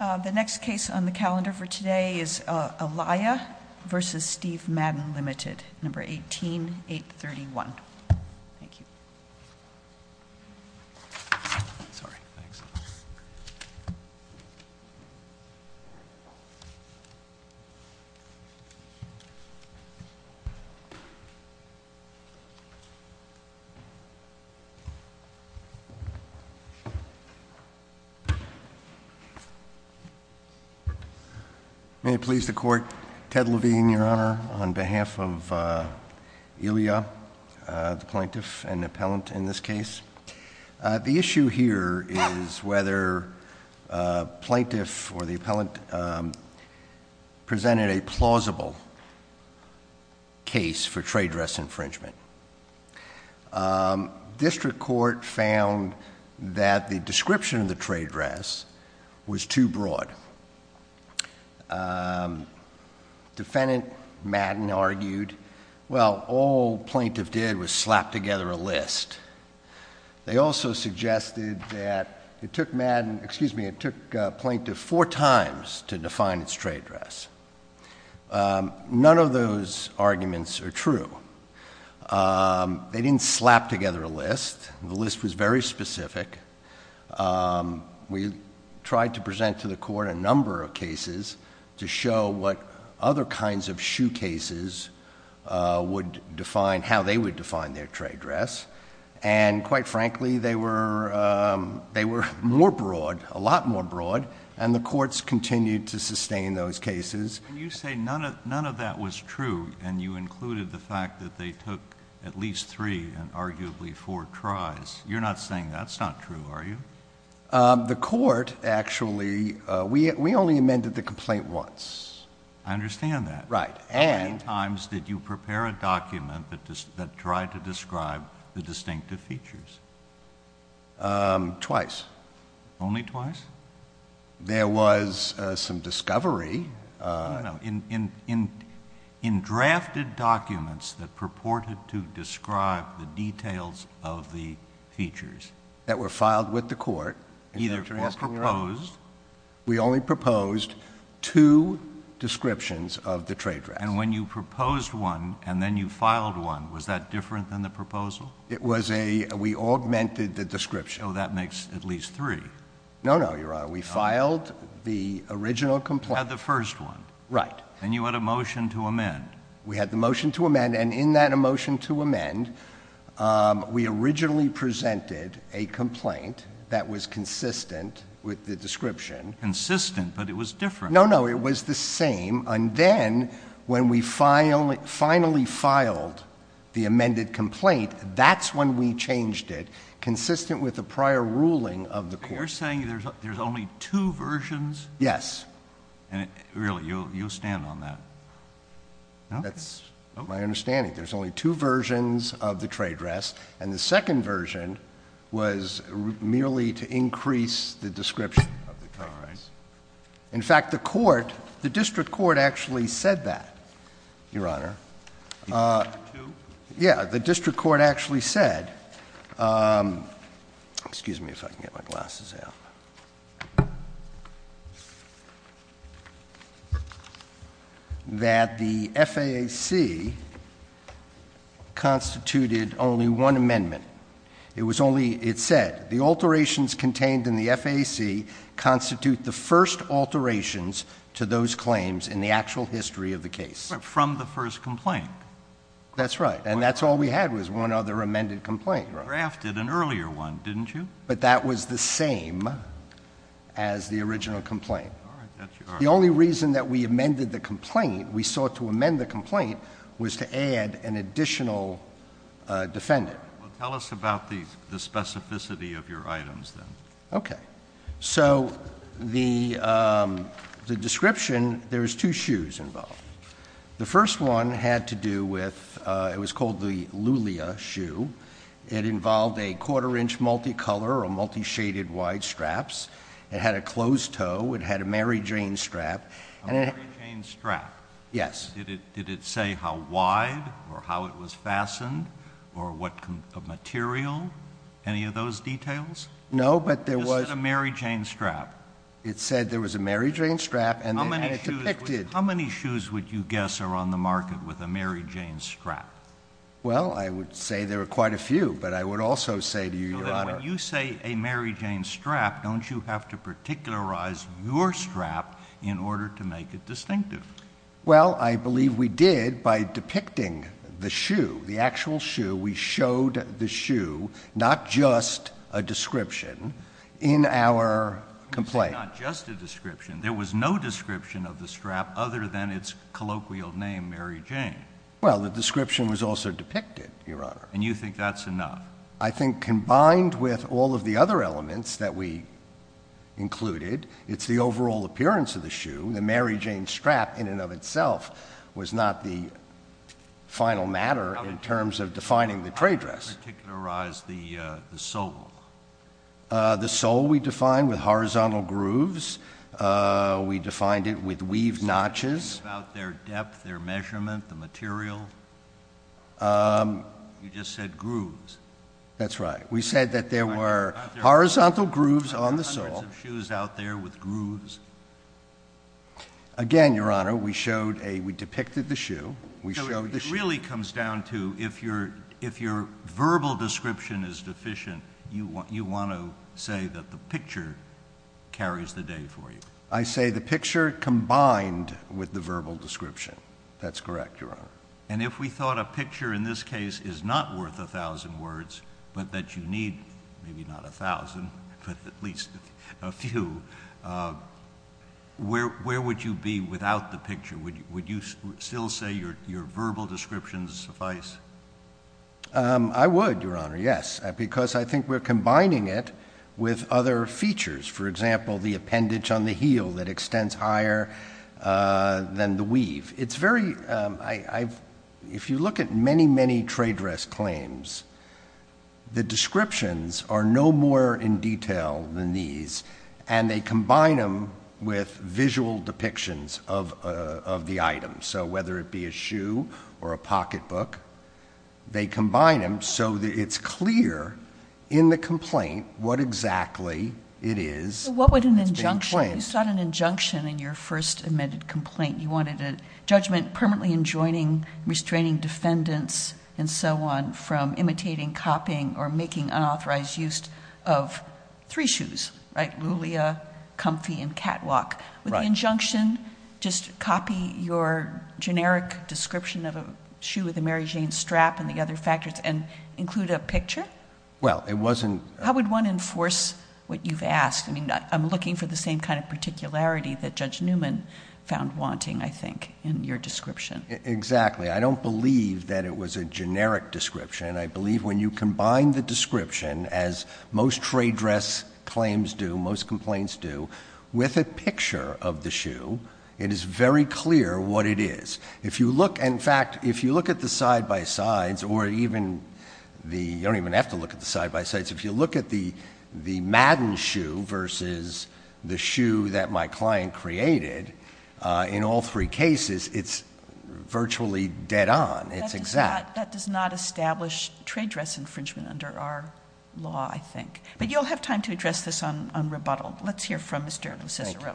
The next case on the calendar for today is Elia v. Steve Madden, Ltd., No. 18-831. May it please the Court. Ted Levine, Your Honor, on behalf of Elia, the plaintiff and the appellant in this case. The issue here is whether the plaintiff or the appellant presented a plausible case for trade dress infringement. District Court found that the description of the trade dress was too broad. Defendant Madden argued, well, all plaintiff did was slap together a list. They also suggested that it took Madden, excuse me, it took plaintiff four times to define its trade dress. None of those arguments are true. They didn't slap together a list. The list was very specific. We tried to present to the Court a number of cases to show what other kinds of shoe cases would define, how they would define their trade dress. Quite frankly, they were more broad, a lot more broad, and the Courts continued to sustain those cases. You say none of that was true, and you included the fact that they took at least three and arguably four tries. You're not saying that's not true, are you? The Court actually, we only amended the complaint once. I understand that. Right. How many times did you prepare a document that tried to describe the distinctive features? Twice. Only twice? There was some discovery. In drafted documents that purported to describe the details of the features. That were filed with the Court. Either proposed. We only proposed two descriptions of the trade dress. And when you proposed one and then you filed one, was that different than the proposal? It was a, we augmented the description. So that makes at least three. No, no, Your Honor. We filed the original complaint. You had the first one. Right. And you had a motion to amend. We had the motion to amend. And in that motion to amend, we originally presented a complaint that was consistent with the description. Consistent, but it was different. No, no. It was the same. And then when we finally filed the amended complaint, that's when we changed it. Consistent with the prior ruling of the Court. You're saying there's only two versions? Yes. Really? You'll stand on that? No? That's my understanding. There's only two versions of the trade dress. And the second version was merely to increase the description of the dress. All right. In fact, the Court, the District Court actually said that, Your Honor. The other two? Yeah, the District Court actually said... Excuse me if I can get my glasses out. That the FAAC constituted only one amendment. It said, the alterations contained in the FAAC constitute the first alterations to those claims in the actual history of the case. From the first complaint. That's right. And that's all we had was one other amended complaint. You drafted an earlier one, didn't you? But that was the same as the original complaint. All right. That's your argument. The only reason that we amended the complaint, we sought to amend the complaint, was to add an additional defendant. Well, tell us about the specificity of your items then. Okay. So, the description, there's two shoes involved. The first one had to do with, it was called the Lulia shoe. It involved a quarter-inch multi-color or multi-shaded wide straps. It had a closed toe. It had a Mary Jane strap. A Mary Jane strap? Yes. Did it say how wide or how it was fastened or what material? Any of those details? No, but there was... It said a Mary Jane strap. It said there was a Mary Jane strap and it depicted... How many shoes would you guess are on the market with a Mary Jane strap? Well, I would say there are quite a few, but I would also say to you, Your Honor... When you say a Mary Jane strap, don't you have to particularize your strap in order to make it distinctive? Well, I believe we did by depicting the shoe, the actual shoe. We showed the shoe, not just a description, in our complaint. You said not just a description. There was no description of the strap other than its colloquial name, Mary Jane. Well, the description was also depicted, Your Honor. And you think that's enough? I think combined with all of the other elements that we included, it's the overall appearance of the shoe. The Mary Jane strap in and of itself was not the final matter in terms of defining the trade dress. How did you particularize the sole? The sole we defined with horizontal grooves. We defined it with weaved notches. You talked about their depth, their measurement, the material. You just said grooves. That's right. We said that there were horizontal grooves on the sole. Are there hundreds of shoes out there with grooves? Again, Your Honor, we showed a... we depicted the shoe. We showed the shoe. So it really comes down to if your verbal description is deficient, you want to say that the picture carries the day for you. I say the picture combined with the verbal description. That's correct, Your Honor. And if we thought a picture in this case is not worth a thousand words, but that you need maybe not a thousand, but at least a few, where would you be without the picture? Would you still say your verbal descriptions suffice? I would, Your Honor, yes, because I think we're combining it with other features. For example, the appendage on the heel that extends higher than the weave. It's very... if you look at many, many trade dress claims, the descriptions are no more in detail than these, and they combine them with visual depictions of the item. So whether it be a shoe or a pocketbook, they combine them so that it's clear in the complaint what exactly it is that's being claimed. What would an injunction... you sought an injunction in your first amended complaint. You wanted a judgment permanently enjoining, restraining defendants and so on from imitating, copying, or making unauthorized use of three shoes, right, Lulia, Comfy, and Catwalk. Would the injunction just copy your generic description of a shoe with a Mary Jane strap and the other factors and include a picture? Well, it wasn't... How would one enforce what you've asked? I mean, I'm looking for the same kind of particularity that Judge Newman found wanting, I think, in your description. Exactly. I don't believe that it was a generic description. I believe when you combine the description, as most trade dress claims do, most complaints do, with a picture of the shoe, it is very clear what it is. If you look... in fact, if you look at the side-by-sides or even the... you don't even have to look at the side-by-sides. If you look at the Madden shoe versus the shoe that my client created, in all three cases, it's virtually dead on. It's exact. That does not establish trade dress infringement under our law, I think. But you'll have time to address this on rebuttal. Let's hear from Mr. Lucicero. Thank you.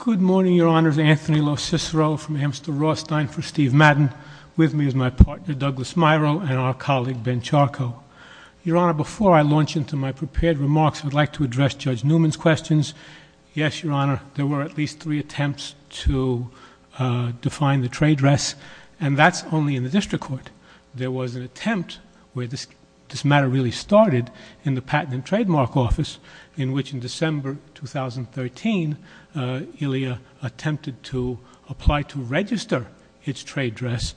Good morning, Your Honor. This is Anthony Lucicero from Amstel Rothstein for Steve Madden. With me is my partner, Douglas Miro, and our colleague, Ben Charco. Your Honor, before I launch into my prepared remarks, I would like to address Judge Newman's questions. Yes, Your Honor, there were at least three attempts to define the trade dress, and that's only in the district court. There was an attempt where this matter really started in the Patent and Trademark Office, in which in December 2013, ILIA attempted to apply to register its trade dress,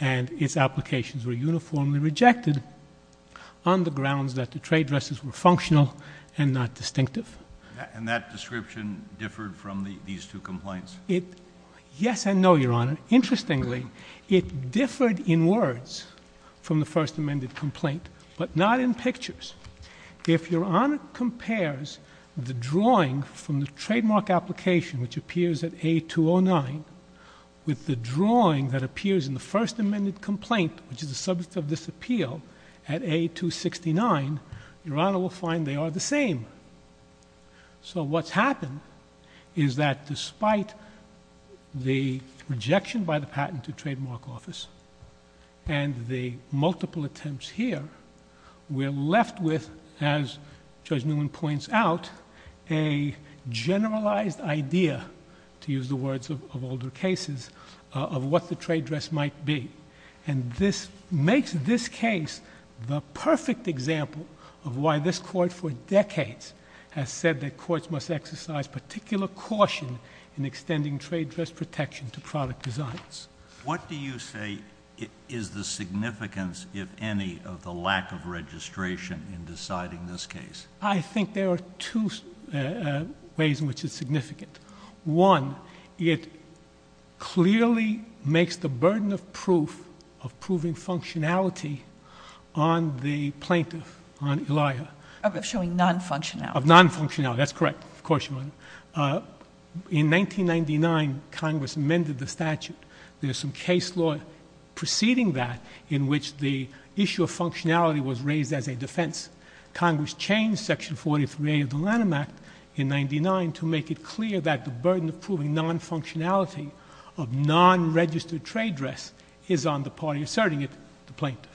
and its applications were uniformly rejected on the grounds that the trade dresses were functional and not distinctive. And that description differed from these two complaints? Yes and no, Your Honor. Interestingly, it differed in words from the first amended complaint, but not in pictures. If Your Honor compares the drawing from the trademark application, which appears at A209, with the drawing that appears in the first amended complaint, which is the subject of this appeal, at A269, Your Honor will find they are the same. So what's happened is that despite the rejection by the Patent and Trademark Office, and the multiple attempts here, we're left with, as Judge Newman points out, a generalized idea, to use the words of older cases, of what the trade dress might be. And this makes this case the perfect example of why this court, for decades, has said that courts must exercise particular caution in extending trade dress protection to product designs. What do you say is the significance, if any, of the lack of registration in deciding this case? I think there are two ways in which it's significant. One, it clearly makes the burden of proof, of proving functionality, on the plaintiff, on Elijah. Of showing non-functionality. Of non-functionality, that's correct, of course, Your Honor. In 1999, Congress amended the statute. There's some case law preceding that, in which the issue of functionality was raised as a defense. Congress changed Section 43A of the Lanham Act, in 1999, to make it clear that the burden of proving non-functionality of non-registered trade dress is on the party asserting it, the plaintiff.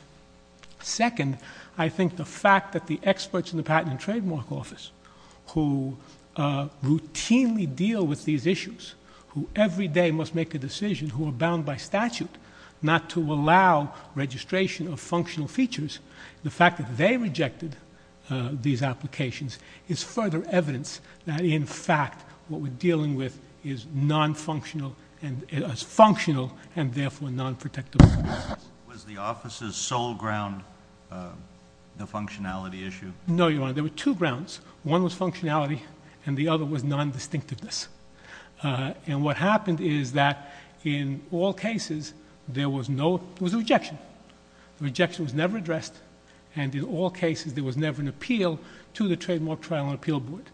Second, I think the fact that the experts in the Patent and Trademark Office, who routinely deal with these issues, who every day must make a decision, who are bound by statute not to allow registration of functional features, the fact that they rejected these applications is further evidence that, in fact, what we're dealing with is functional and, therefore, non-protectable. Was the office's sole ground the functionality issue? No, Your Honor. There were two grounds. One was functionality, and the other was non-distinctiveness. What happened is that, in all cases, there was a rejection. The rejection was never addressed, and, in all cases, there was never an appeal to the Trademark Trial and Appeal Board.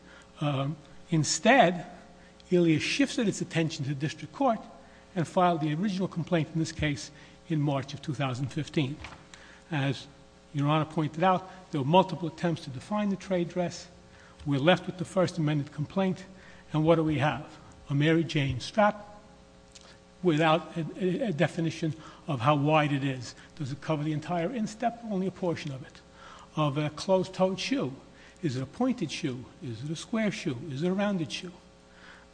Instead, ILIA shifted its attention to the district court and filed the original complaint in this case in March of 2015. As Your Honor pointed out, there were multiple attempts to define the trade dress. We're left with the First Amendment complaint, and what do we have? A Mary Jane strap without a definition of how wide it is. Does it cover the entire instep? Only a portion of it. Is it a closed-toed shoe? Is it a pointed shoe? Is it a square shoe? Is it a rounded shoe?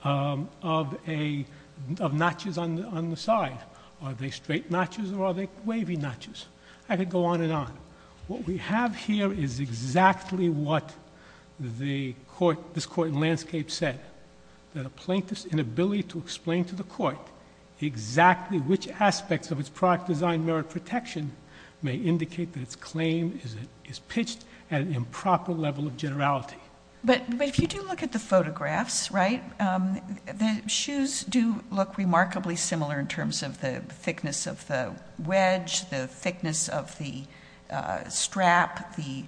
Of notches on the side, are they straight notches or are they wavy notches? I could go on and on. What we have here is exactly what this court in Landscape said, that a plaintiff's inability to explain to the court exactly which aspects of its product design merit protection may indicate that its claim is pitched at an improper level of generality. But if you do look at the photographs, right, the shoes do look remarkably similar in terms of the thickness of the wedge, the thickness of the strap, the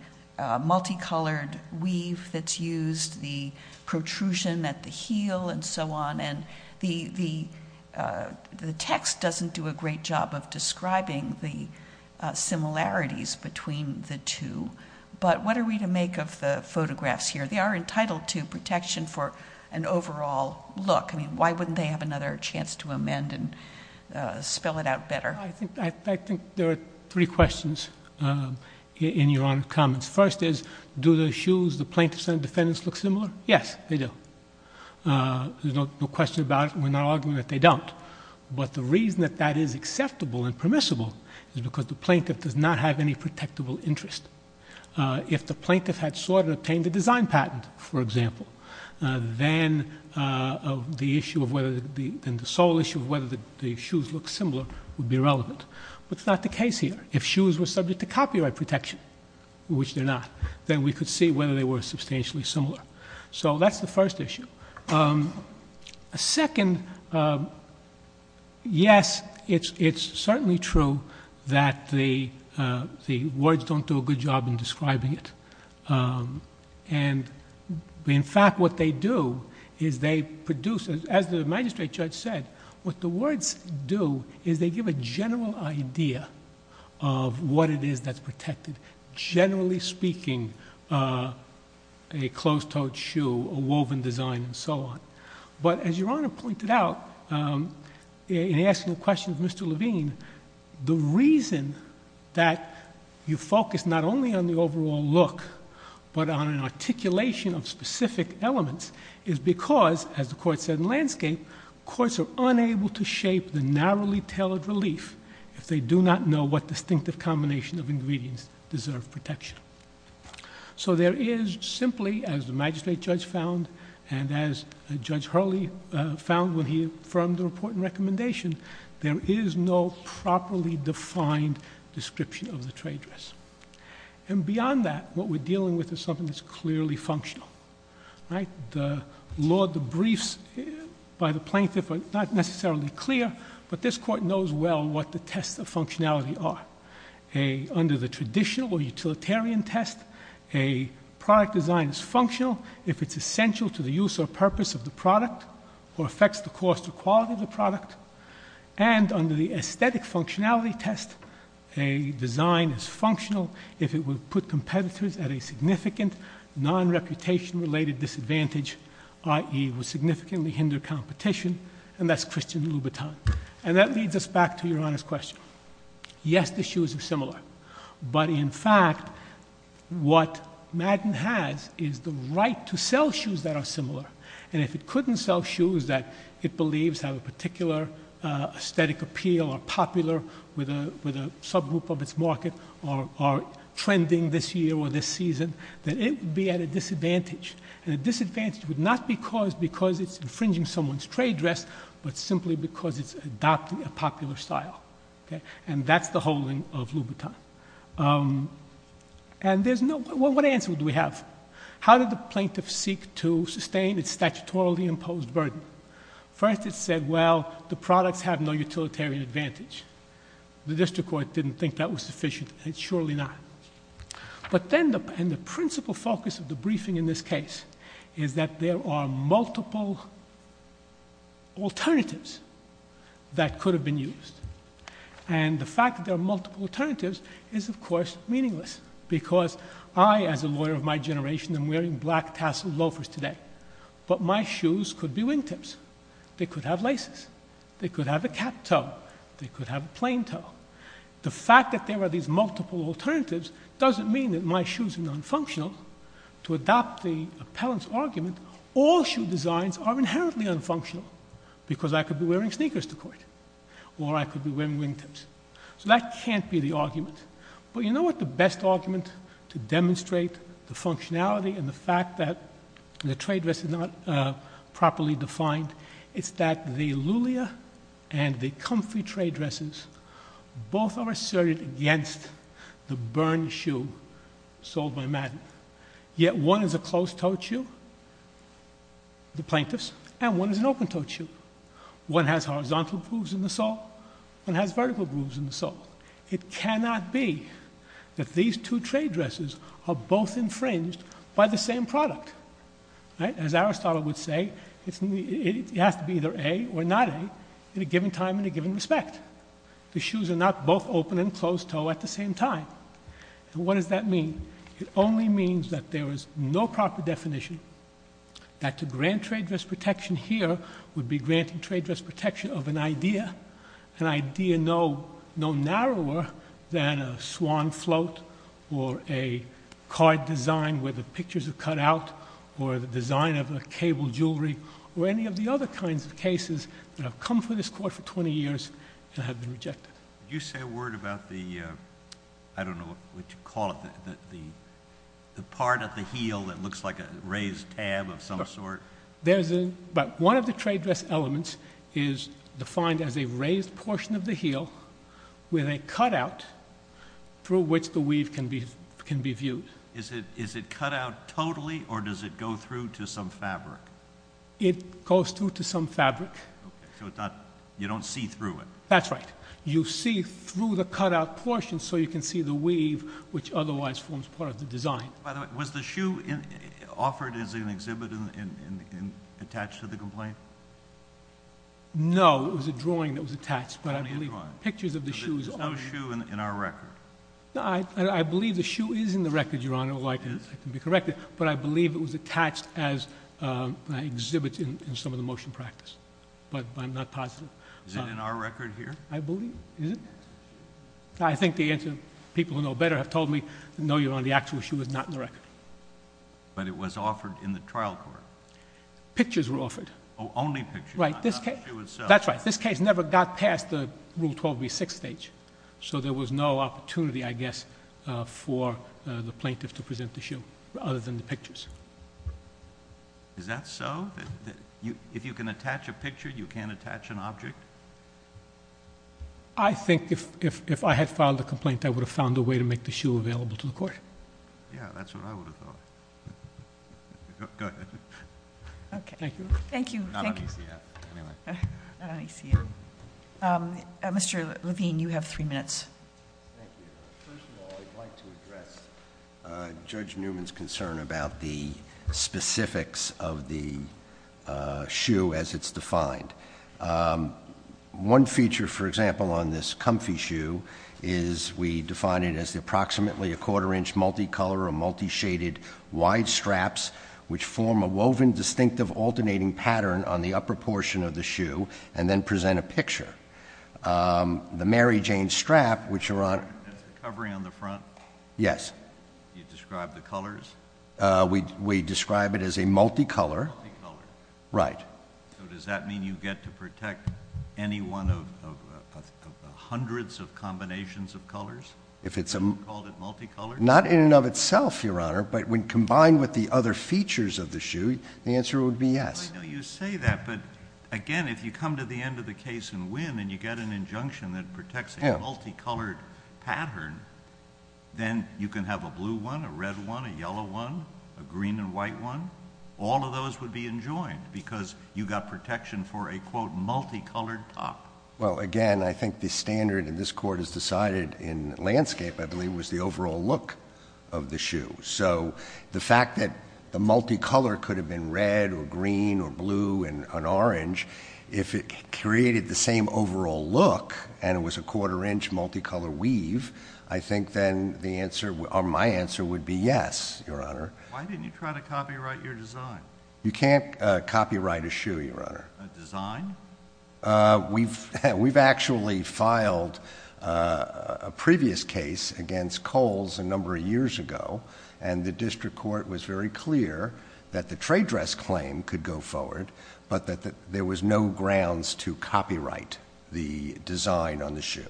multicolored weave that's used, the protrusion at the heel and so on, and the text doesn't do a great job of describing the similarities between the two. But what are we to make of the photographs here? They are entitled to protection for an overall look. I mean, why wouldn't they have another chance to amend and spell it out better? I think there are three questions in your Honor's comments. First is, do the shoes the plaintiff's and the defendant's look similar? Yes, they do. There's no question about it. We're not arguing that they don't. But the reason that that is acceptable and permissible is because the plaintiff does not have any protectable interest. If the plaintiff had sought and obtained a design patent, for example, then the sole issue of whether the shoes look similar would be relevant. But that's not the case here. If shoes were subject to copyright protection, which they're not, then we could see whether they were substantially similar. So that's the first issue. Second, yes, it's certainly true that the words don't do a good job in describing it. In fact, what they do is they produce, as the magistrate judge said, what the words do is they give a general idea of what it is that's protected, generally speaking, a closed-toed shoe, a woven design, and so on. But as Your Honor pointed out in asking the question of Mr. Levine, the reason that you focus not only on the overall look but on an articulation of specific elements is because, as the Court said in landscape, courts are unable to shape the narrowly tailored relief if they do not know what distinctive combination of ingredients deserve protection. So there is simply, as the magistrate judge found and as Judge Hurley found when he affirmed the report and recommendation, there is no properly defined description of the trade dress. And beyond that, what we're dealing with is something that's clearly functional. The law debriefs by the plaintiff are not necessarily clear, but this Court knows well what the tests of functionality are. Under the traditional or utilitarian test, a product design is functional if it's essential to the use or purpose of the product or affects the cost or quality of the product. If it will put competitors at a significant non-reputation-related disadvantage, i.e., will significantly hinder competition, and that's Christian Louboutin. And that leads us back to Your Honor's question. Yes, the shoes are similar. But in fact, what Madden has is the right to sell shoes that are similar. And if it couldn't sell shoes that it believes have a particular aesthetic appeal or are popular with a subgroup of its market or are trending this year or this season, then it would be at a disadvantage. And a disadvantage would not be caused because it's infringing someone's trade dress, but simply because it's adopting a popular style. And that's the holding of Louboutin. And what answer do we have? How did the plaintiff seek to sustain its statutorily imposed burden? First, it said, well, the products have no utilitarian advantage. The district court didn't think that was sufficient, and it's surely not. But then the principle focus of the briefing in this case is that there are multiple alternatives that could have been used. And the fact that there are multiple alternatives is, of course, meaningless because I, as a lawyer of my generation, am wearing black tassel loafers today. But my shoes could be wingtips. They could have laces. They could have a cap toe. They could have a plain toe. The fact that there are these multiple alternatives doesn't mean that my shoes are nonfunctional. To adopt the appellant's argument, all shoe designs are inherently unfunctional because I could be wearing sneakers to court or I could be wearing wingtips. So that can't be the argument. But you know what the best argument to demonstrate the functionality and the fact that the trade dress is not properly defined? It's that the Lulia and the Comfrey trade dresses both are asserted against the Bern shoe sold by Madden. Yet one is a closed-toe shoe, the plaintiffs, and one is an open-toe shoe. One has horizontal grooves in the sole. One has vertical grooves in the sole. It cannot be that these two trade dresses are both infringed by the same product. As Aristotle would say, it has to be either A or not A in a given time and a given respect. The shoes are not both open and closed-toe at the same time. What does that mean? It only means that there is no proper definition that to grant trade dress protection here would be granting trade dress protection of an idea, an idea no narrower than a swan float or a card design where the pictures are cut out or the design of a cable jewelry or any of the other kinds of cases that have come to this court for 20 years and have been rejected. Could you say a word about the, I don't know what you call it, the part of the heel that looks like a raised tab of some sort? One of the trade dress elements is defined as a raised portion of the heel with a cutout through which the weave can be viewed. Is it cut out totally or does it go through to some fabric? It goes through to some fabric. You don't see through it? That's right. You see through the cutout portion so you can see the weave which otherwise forms part of the design. By the way, was the shoe offered as an exhibit and attached to the complaint? No. It was a drawing that was attached, but I believe pictures of the shoes. There's no shoe in our record. I believe the shoe is in the record, Your Honor, although I can be corrected, but I believe it was attached as an exhibit in some of the motion practice, but I'm not positive. Is it in our record here? I believe. Is it? I think the answer people who know better have told me, no, Your Honor, the actual shoe is not in the record. But it was offered in the trial court. Pictures were offered. Only pictures, not the shoe itself. That's right. This case never got past the Rule 12b6 stage, so there was no opportunity, I guess, for the plaintiff to present the shoe other than the pictures. Is that so? If you can attach a picture, you can't attach an object? I think if I had filed a complaint, I would have found a way to make the shoe available to the court. Yeah, that's what I would have thought. Go ahead. Okay. Thank you. Thank you. Not on ECF, anyway. Not on ECF. Mr. Levine, you have three minutes. Thank you. First of all, I'd like to address Judge Newman's concern about the specifics of the shoe as it's defined. One feature, for example, on this comfy shoe is we define it as approximately a quarter-inch multicolor or multishaded wide straps, which form a woven distinctive alternating pattern on the upper portion of the shoe and then present a picture. The Mary Jane strap, which Your Honor... Is it covering on the front? Yes. Do you describe the colors? We describe it as a multicolor. Multicolor. Right. So does that mean you get to protect any one of the hundreds of combinations of colors? If it's a... Do you call it multicolored? Not in and of itself, Your Honor, but when combined with the other features of the shoe, the answer would be yes. I know you say that, but again, if you come to the end of the case and win and you get an injunction that protects a multicolored pattern, then you can have a blue one, a red one, a yellow one, a green and white one. All of those would be enjoined because you got protection for a, quote, multicolored top. Well, again, I think the standard in this court has decided in landscape, I believe, was the overall look of the shoe. So the fact that the multicolor could have been red or green or blue and orange, if it created the same overall look and it was a quarter-inch multicolor weave, I think then my answer would be yes, Your Honor. Why didn't you try to copyright your design? You can't copyright a shoe, Your Honor. A design? We've actually filed a previous case against Kohl's a number of years ago, and the district court was very clear that the trade dress claim could go forward, but that there was no grounds to copyright the design on the shoe.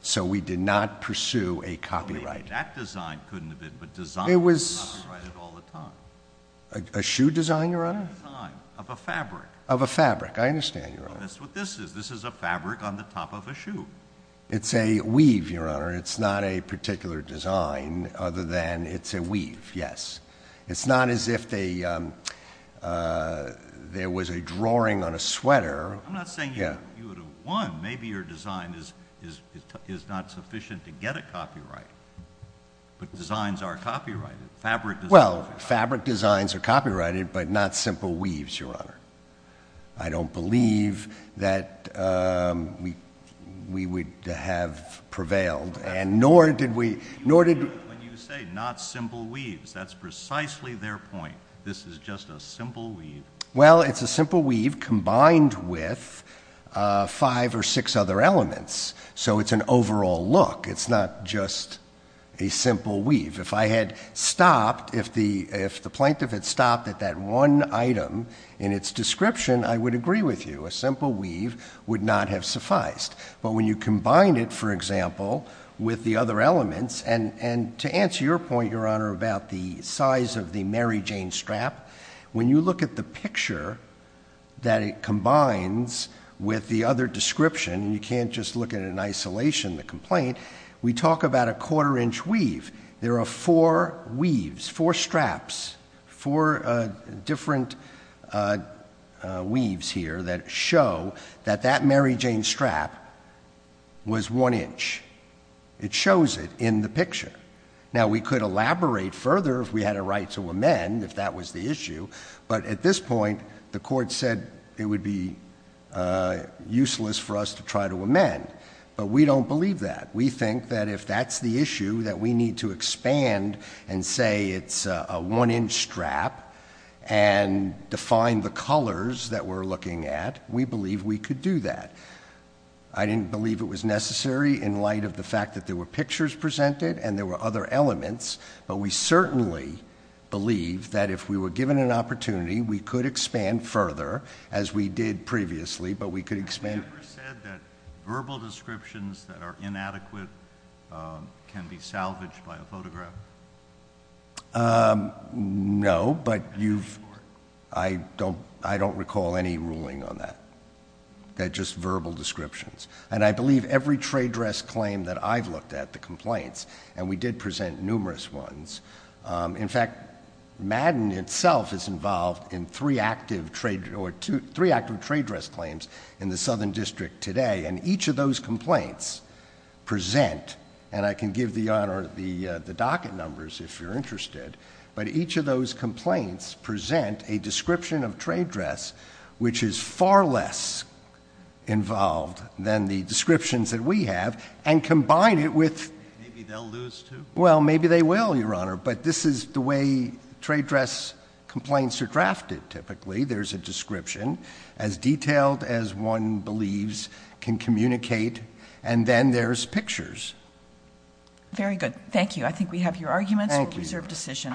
So we did not pursue a copyright. That design couldn't have been, but designers copyright it all the time. A shoe design, Your Honor? A design of a fabric. Of a fabric, I understand, Your Honor. That's what this is. This is a fabric on the top of a shoe. It's a weave, Your Honor. It's not a particular design other than it's a weave, yes. It's not as if there was a drawing on a sweater. I'm not saying you would have won. Maybe your design is not sufficient to get a copyright, but designs are copyrighted. Fabric designs are copyrighted. Well, fabric designs are copyrighted, but not simple weaves, Your Honor. I don't believe that we would have prevailed, and nor did we... When you say not simple weaves, that's precisely their point. This is just a simple weave. Well, it's a simple weave combined with five or six other elements, so it's an overall look. It's not just a simple weave. If I had stopped, if the plaintiff had stopped at that one item in its description, I would agree with you. A simple weave would not have sufficed. But when you combine it, for example, with the other elements... And to answer your point, Your Honor, about the size of the Mary Jane strap... When you look at the picture that it combines with the other description... You can't just look at it in isolation, the complaint. We talk about a quarter-inch weave. There are four weaves, four straps, four different weaves here that show that that Mary Jane strap was one inch. It shows it in the picture. Now, we could elaborate further if we had a right to amend, if that was the issue. But at this point, the court said it would be useless for us to try to amend. But we don't believe that. We think that if that's the issue, that we need to expand and say it's a one-inch strap... And define the colors that we're looking at... We believe we could do that. I didn't believe it was necessary in light of the fact that there were pictures presented and there were other elements. But we certainly believe that if we were given an opportunity, we could expand further, as we did previously. But we could expand... Have you ever said that verbal descriptions that are inadequate can be salvaged by a photograph? No, but you've... I don't recall any ruling on that. Just verbal descriptions. And I believe every trade dress claim that I've looked at, the complaints, and we did present numerous ones. In fact, Madden itself is involved in three active trade dress claims in the Southern District today. And each of those complaints present... And I can give the docket numbers, if you're interested. But each of those complaints present a description of trade dress, which is far less involved than the descriptions that we have. And combine it with... Maybe they'll lose, too. Well, maybe they will, Your Honor. But this is the way trade dress complaints are drafted, typically. There's a description, as detailed as one believes can communicate. And then there's pictures. Very good. Thank you. I think we have your arguments. Thank you. It's a reserved decision.